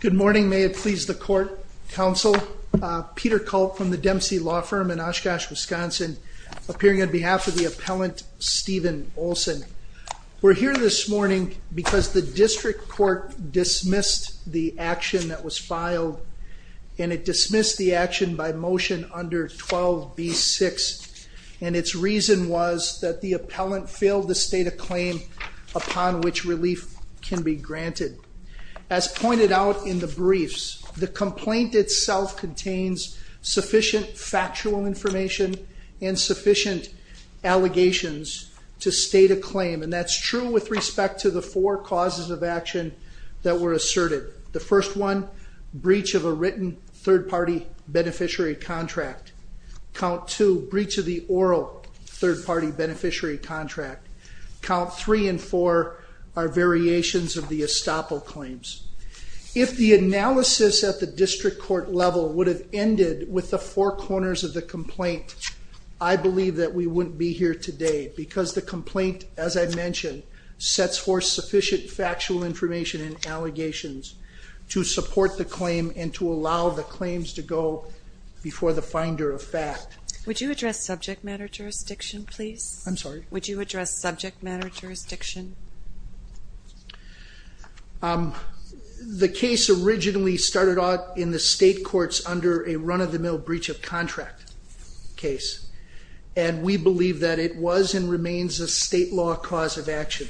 Good morning, may it please the court, counsel. Peter Culp from the Dempsey Law Firm in Oshkosh, Wisconsin, appearing on behalf of the appellant Steven Olson. We're here this morning because the district court dismissed the action that was filed, and it dismissed the action by motion under 12b-6, and its reason was that the appellant failed to state a claim upon which relief can be granted. As pointed out in the briefs, the complaint itself contains sufficient factual information and sufficient allegations to state a claim, and that's true with respect to the four causes of action that were asserted. The first one, breach of a written third-party beneficiary contract. Count two, breach of the oral third-party beneficiary contract. Count three and four are variations of the estoppel claims. If the analysis at the district court level would have ended with the four corners of the complaint, I believe that we wouldn't be here today because the complaint, as I've mentioned, sets forth sufficient factual information and allegations to support the claim and to allow the claims to go before the finder of fact. Would you address subject matter jurisdiction, please? I'm sorry? Would you address subject matter jurisdiction? The case originally started out in the state courts under a run-of-the-mill breach of contract case, and we believe that it was and remains a state law cause of action.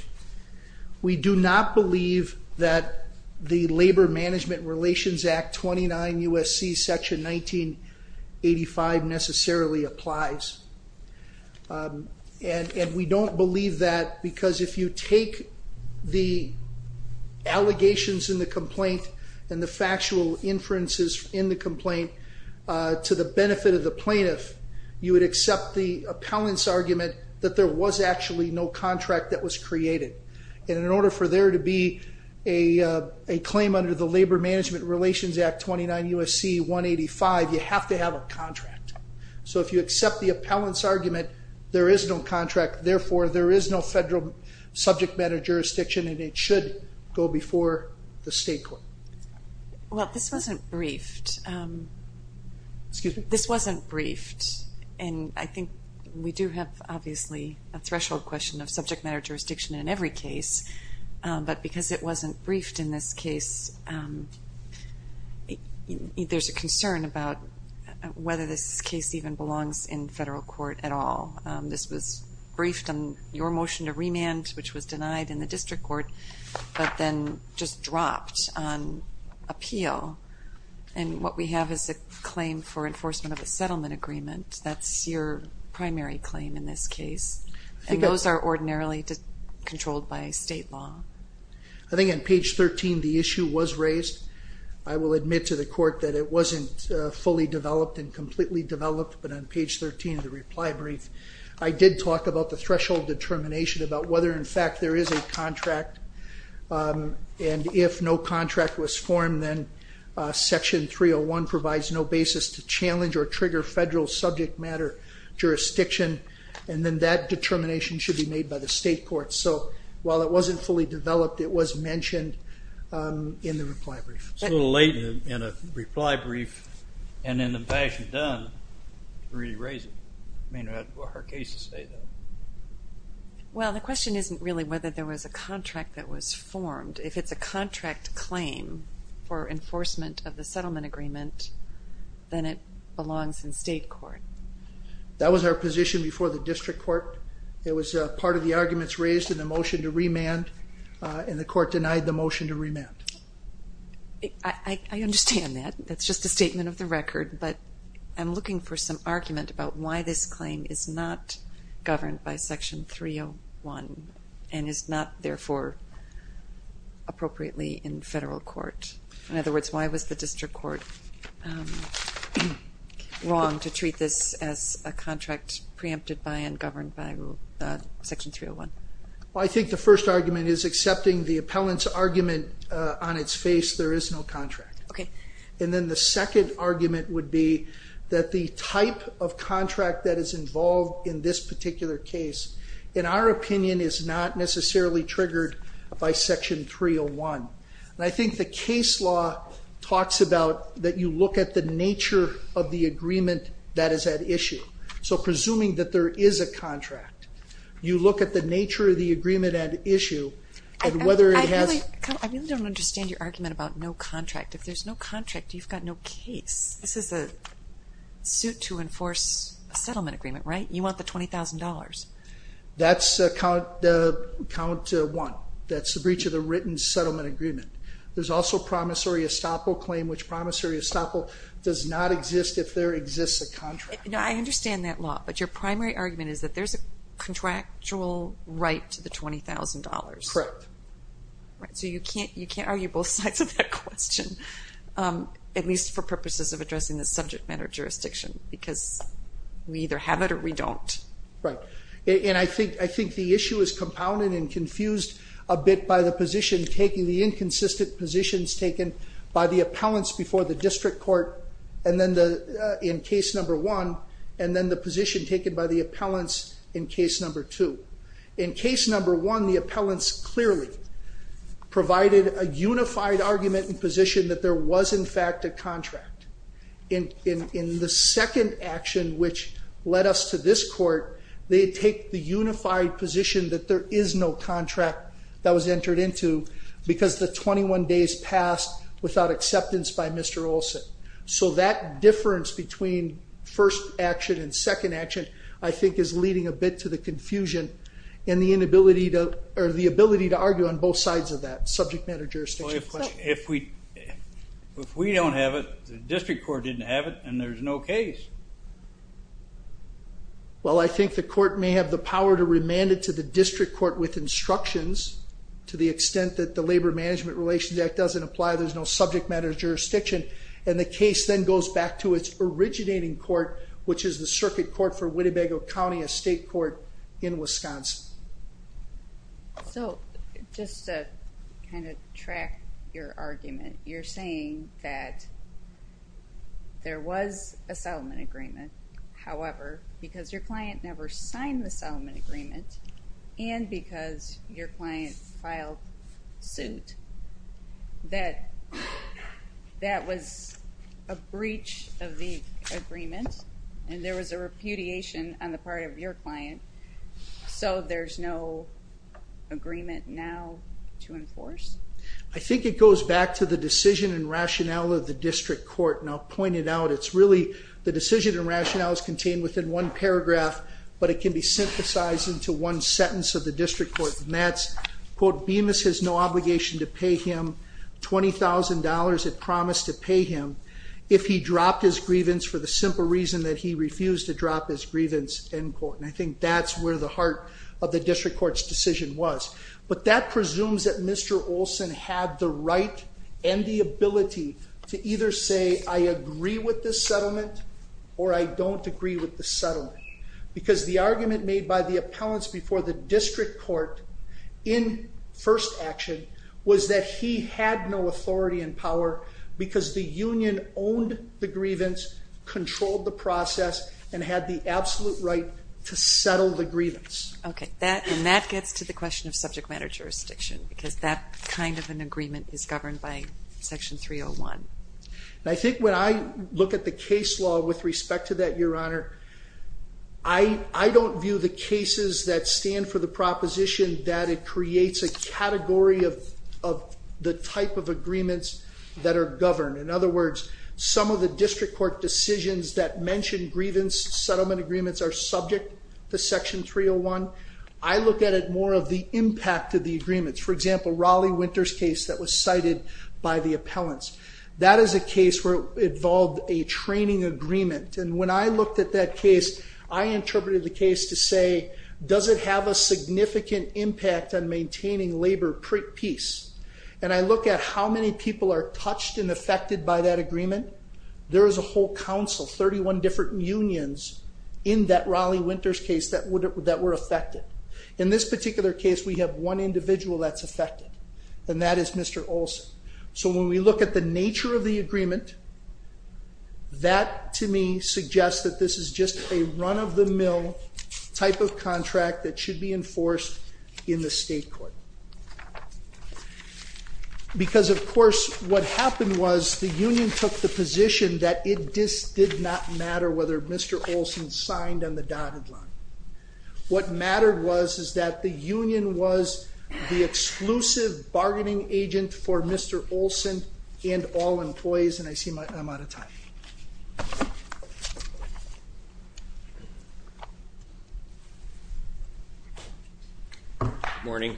We do not believe that the Labor Management Relations Act 29 U.S.C. section 1985 necessarily applies, and we don't believe that because if you take the allegations in the complaint and the factual inferences in the complaint to the benefit of the plaintiff, you would accept the appellant's argument that there was actually no contract that was created, and in order for there to be a claim under the Labor Management Relations Act 29 U.S.C. 185, you have to have a contract. So if you accept the appellant's argument, there is no contract. Therefore, there is no federal subject matter jurisdiction, and it should go before the state court. Well, this wasn't briefed. Excuse me? This wasn't briefed, and I think we do have, obviously, a threshold question of subject matter jurisdiction in every case, but because it wasn't briefed in this case, there's a concern about whether this case even belongs in federal court at all. This was briefed on your motion to remand, which was denied in the district court, but then just dropped on appeal, and what we have is a claim for enforcement of a settlement agreement. That's your primary claim in this case. And those are ordinarily controlled by state law. I think on page 13, the issue was raised. I will admit to the court that it wasn't fully developed and completely developed, but on page 13 of the reply brief, I did talk about the threshold determination about whether, in fact, there is a contract, and if no contract was formed, then Section 301 provides no basis to challenge or trigger federal subject matter jurisdiction, and then that determination should be made by the state court. So while it wasn't fully developed, it was mentioned in the reply brief. It's a little late in a reply brief, and in the fashion done, to really raise it. I mean, it's a hard case to say, though. Well, the question isn't really whether there was a contract that was formed. If it's a contract claim for enforcement of the settlement agreement, then it belongs in state court. That was our position before the district court. It was part of the arguments raised in the motion to remand, and the court denied the motion to remand. I understand that. That's just a statement of the record, but I'm looking for some argument about why this claim is not governed by Section 301 and is not, therefore, appropriately in federal court. In other words, why was the district court wrong to treat this as a contract preempted by and governed by Section 301? Well, I think the first argument is accepting the appellant's argument on its face, there is no contract. Okay. And then the second argument would be that the type of contract that is involved in this particular case, in our opinion, is not necessarily triggered by Section 301. And I think the case law talks about that you look at the nature of the agreement that is at issue. So presuming that there is a contract, you look at the nature of the agreement at issue, and whether it has I really don't understand your argument about no contract. If there's no contract, you've got no case. This is a suit to enforce a settlement agreement, right? You want the $20,000. That's count one. That's the breach of the written settlement agreement. There's also promissory estoppel claim, which promissory estoppel does not exist if there exists a contract. I understand that law, but your primary argument is that there's a contractual right to the $20,000. Correct. So you can't argue both sides of that question, at least for purposes of addressing the subject matter jurisdiction, because we either have it or we don't. Right. And I think the issue is compounded and confused a bit by the position taken, the inconsistent positions taken by the appellants before the district court in case number one, and then the position taken by the appellants in case number two. In case number one, the appellants clearly provided a unified argument and position that there was, in fact, a contract. In the second action, which led us to this court, they take the unified position that there is no contract that was entered into because the 21 days passed without acceptance by Mr. Olson. So that difference between first action and second action I think is leading a bit to the confusion and the inability to argue on both sides of that subject matter jurisdiction. Well, if we don't have it, the district court didn't have it, and there's no case. Well, I think the court may have the power to remand it to the district court with instructions to the extent that the Labor Management Relations Act doesn't apply, there's no subject matter jurisdiction, and the case then goes back to its originating court, which is the circuit court for Winnebago County, a state court in Wisconsin. So just to kind of track your argument, you're saying that there was a settlement agreement, however, because your client never signed the settlement agreement and because your client filed suit, that that was a breach of the agreement and there was a repudiation on the part of your client, so there's no agreement now to enforce? I think it goes back to the decision and rationale of the district court, and I'll point it out. It's really the decision and rationale is contained within one paragraph, but it can be synthesized into one sentence of the district court, and that's, quote, Bemis has no obligation to pay him $20,000, it promised to pay him, if he dropped his grievance for the simple reason that he refused to drop his grievance, end quote. And I think that's where the heart of the district court's decision was. But that presumes that Mr. Olson had the right and the ability to either say, I agree with this settlement or I don't agree with this settlement, because the argument made by the appellants before the district court in first action was that he had no authority and power because the union owned the grievance, controlled the process, and had the absolute right to settle the grievance. Okay, and that gets to the question of subject matter jurisdiction, because that kind of an agreement is governed by Section 301. I think when I look at the case law with respect to that, Your Honor, I don't view the cases that stand for the proposition that it creates a category of the type of agreements that are governed. In other words, some of the district court decisions that mention grievance settlement agreements are subject to Section 301. I look at it more of the impact of the agreements. For example, Raleigh Winters' case that was cited by the appellants. That is a case where it involved a training agreement. And when I looked at that case, I interpreted the case to say, does it have a significant impact on maintaining labor peace? And I look at how many people are touched and affected by that agreement. There is a whole council, 31 different unions in that Raleigh Winters case that were affected. In this particular case, we have one individual that's affected, and that is Mr. Olson. So when we look at the nature of the agreement, that to me suggests that this is just a run-of-the-mill type of contract that should be enforced in the state court. Because, of course, what happened was the union took the position that it just did not matter whether Mr. Olson signed on the dotted line. What mattered was is that the union was the exclusive bargaining agent for Mr. Olson and all employees. And I see I'm out of time. Good morning.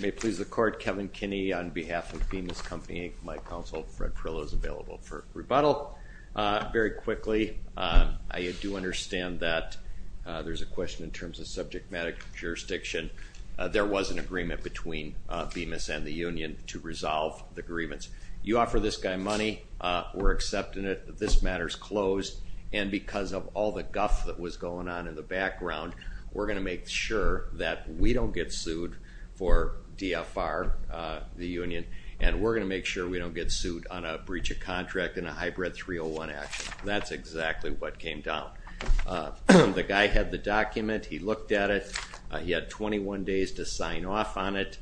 May it please the court, Kevin Kinney on behalf of Bemis Company. My counsel, Fred Perillo, is available for rebuttal. Very quickly, I do understand that there's a question in terms of subject matter jurisdiction. There was an agreement between Bemis and the union to resolve the grievance. You offer this guy money, we're accepting it, this matter's closed, and because of all the guff that was going on in the background, we're going to make sure that we don't get sued for DFR, the union, and we're going to make sure we don't get sued on a breach of contract in a hybrid 301 action. That's exactly what came down. The guy had the document. He looked at it. He had 21 days to sign off on it,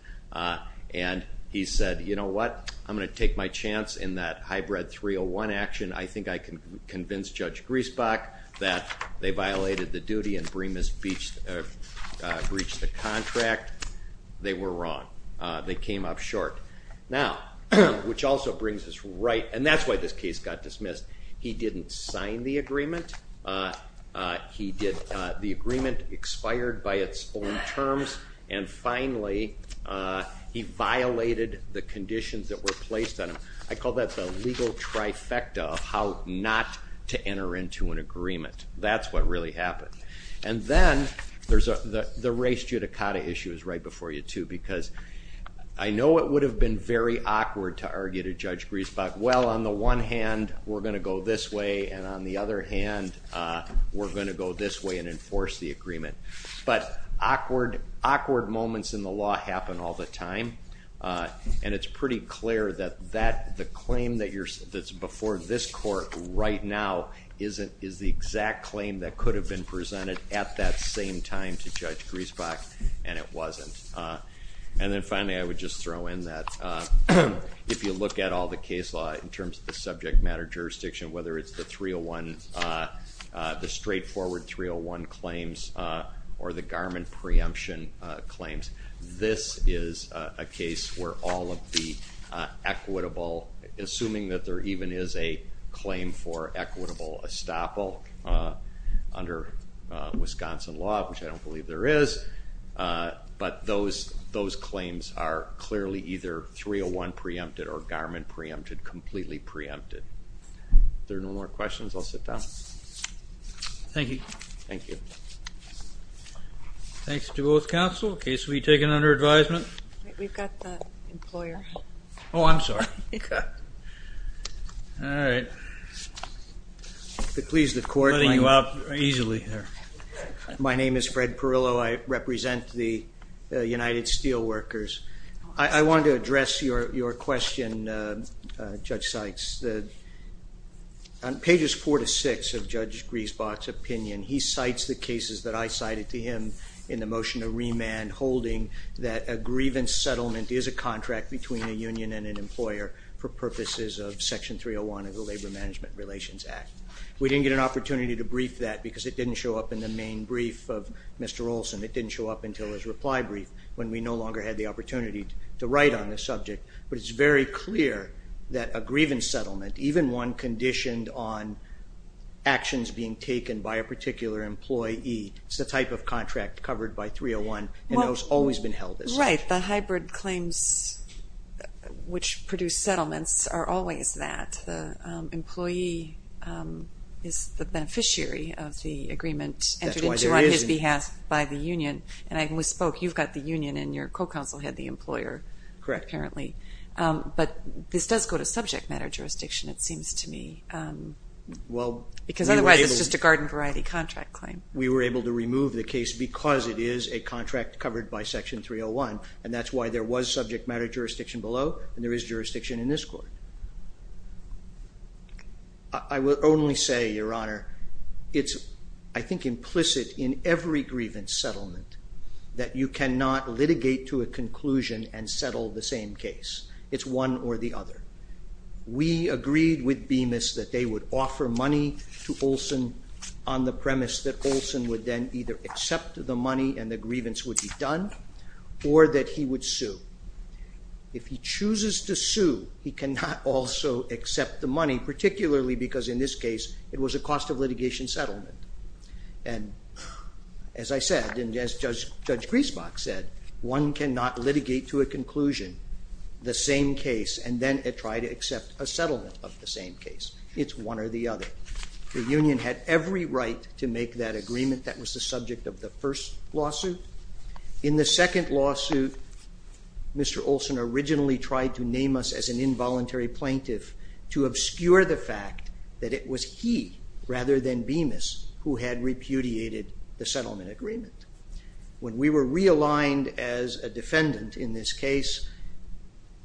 and he said, you know what, I'm going to take my chance in that hybrid 301 action. I think I can convince Judge Griesbach that they violated the duty and breached the contract. They were wrong. They came up short. Now, which also brings us right, and that's why this case got dismissed. He didn't sign the agreement. The agreement expired by its own terms, and finally he violated the conditions that were placed on him. I call that the legal trifecta of how not to enter into an agreement. That's what really happened. And then the race judicata issue is right before you, too, because I know it would have been very awkward to argue to Judge Griesbach, well, on the one hand, we're going to go this way, and on the other hand, we're going to go this way and enforce the agreement. But awkward moments in the law happen all the time, and it's pretty clear that the claim that's before this court right now is the exact claim that could have been presented at that same time to Judge Griesbach, and it wasn't. And then finally, I would just throw in that if you look at all the case law in terms of the subject matter jurisdiction, whether it's the 301, the straightforward 301 claims or the garment preemption claims, this is a case where all of the equitable, assuming that there even is a claim for equitable estoppel under Wisconsin law, which I don't believe there is, but those claims are clearly either 301 preempted or garment preempted, completely preempted. If there are no more questions, I'll sit down. Thank you. Thank you. Thanks to both counsel. Case will be taken under advisement. We've got the employer. Oh, I'm sorry. Okay. All right. If it pleases the court, my name is Fred Perillo. I represent the United Steelworkers. I wanted to address your question, Judge Sykes. On pages 4 to 6 of Judge Griesbach's opinion, he cites the cases that I cited to him in the motion to remand holding that a grievance settlement is a contract between a union and an employer for purposes of Section 301 of the Labor Management Relations Act. We didn't get an opportunity to brief that because it didn't show up in the main brief of Mr. Olson. It didn't show up until his reply brief when we no longer had the opportunity to write on the subject. But it's very clear that a grievance settlement, even one conditioned on actions being taken by a particular employee, is the type of contract covered by 301 and has always been held as such. Right. The hybrid claims which produce settlements are always that. The employee is the beneficiary of the agreement entered into on his behalf by the union. And when we spoke, you've got the union and your co-counsel had the employer, apparently. Correct. But this does go to subject matter jurisdiction, it seems to me. Because otherwise it's just a garden variety contract claim. We were able to remove the case because it is a contract covered by Section 301, and that's why there was subject matter jurisdiction below and there is jurisdiction in this court. I will only say, Your Honor, it's, I think, implicit in every grievance settlement that you cannot litigate to a conclusion and settle the same case. It's one or the other. We agreed with Bemis that they would offer money to Olson on the premise that Olson would then either accept the money and the grievance would be done or that he would sue. If he chooses to sue, he cannot also accept the money, particularly because in this case it was a cost of litigation settlement. And as I said, and as Judge Griesbach said, one cannot litigate to a conclusion the same case and then try to accept a settlement of the same case. It's one or the other. The union had every right to make that agreement that was the subject of the first lawsuit. In the second lawsuit, Mr. Olson originally tried to name us as an involuntary plaintiff to obscure the fact that it was he rather than Bemis who had repudiated the settlement agreement. When we were realigned as a defendant in this case,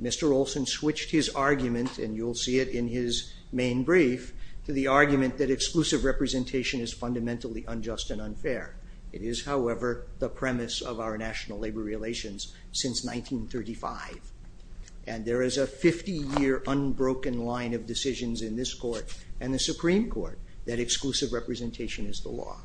Mr. Olson switched his argument, and you'll see it in his main brief, to the argument that exclusive representation is fundamentally unjust and unfair. It is, however, the premise of our national labor relations since 1935. And there is a 50-year unbroken line of decisions in this court and the Supreme Court that exclusive representation is the law.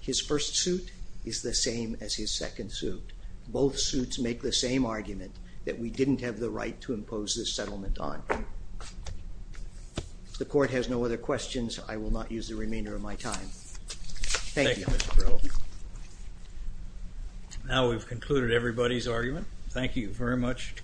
His first suit is the same as his second suit. Both suits make the same argument that we didn't have the right to impose this settlement on. If the court has no other questions, I will not use the remainder of my time. Thank you. Now we've concluded everybody's argument. Thank you very much.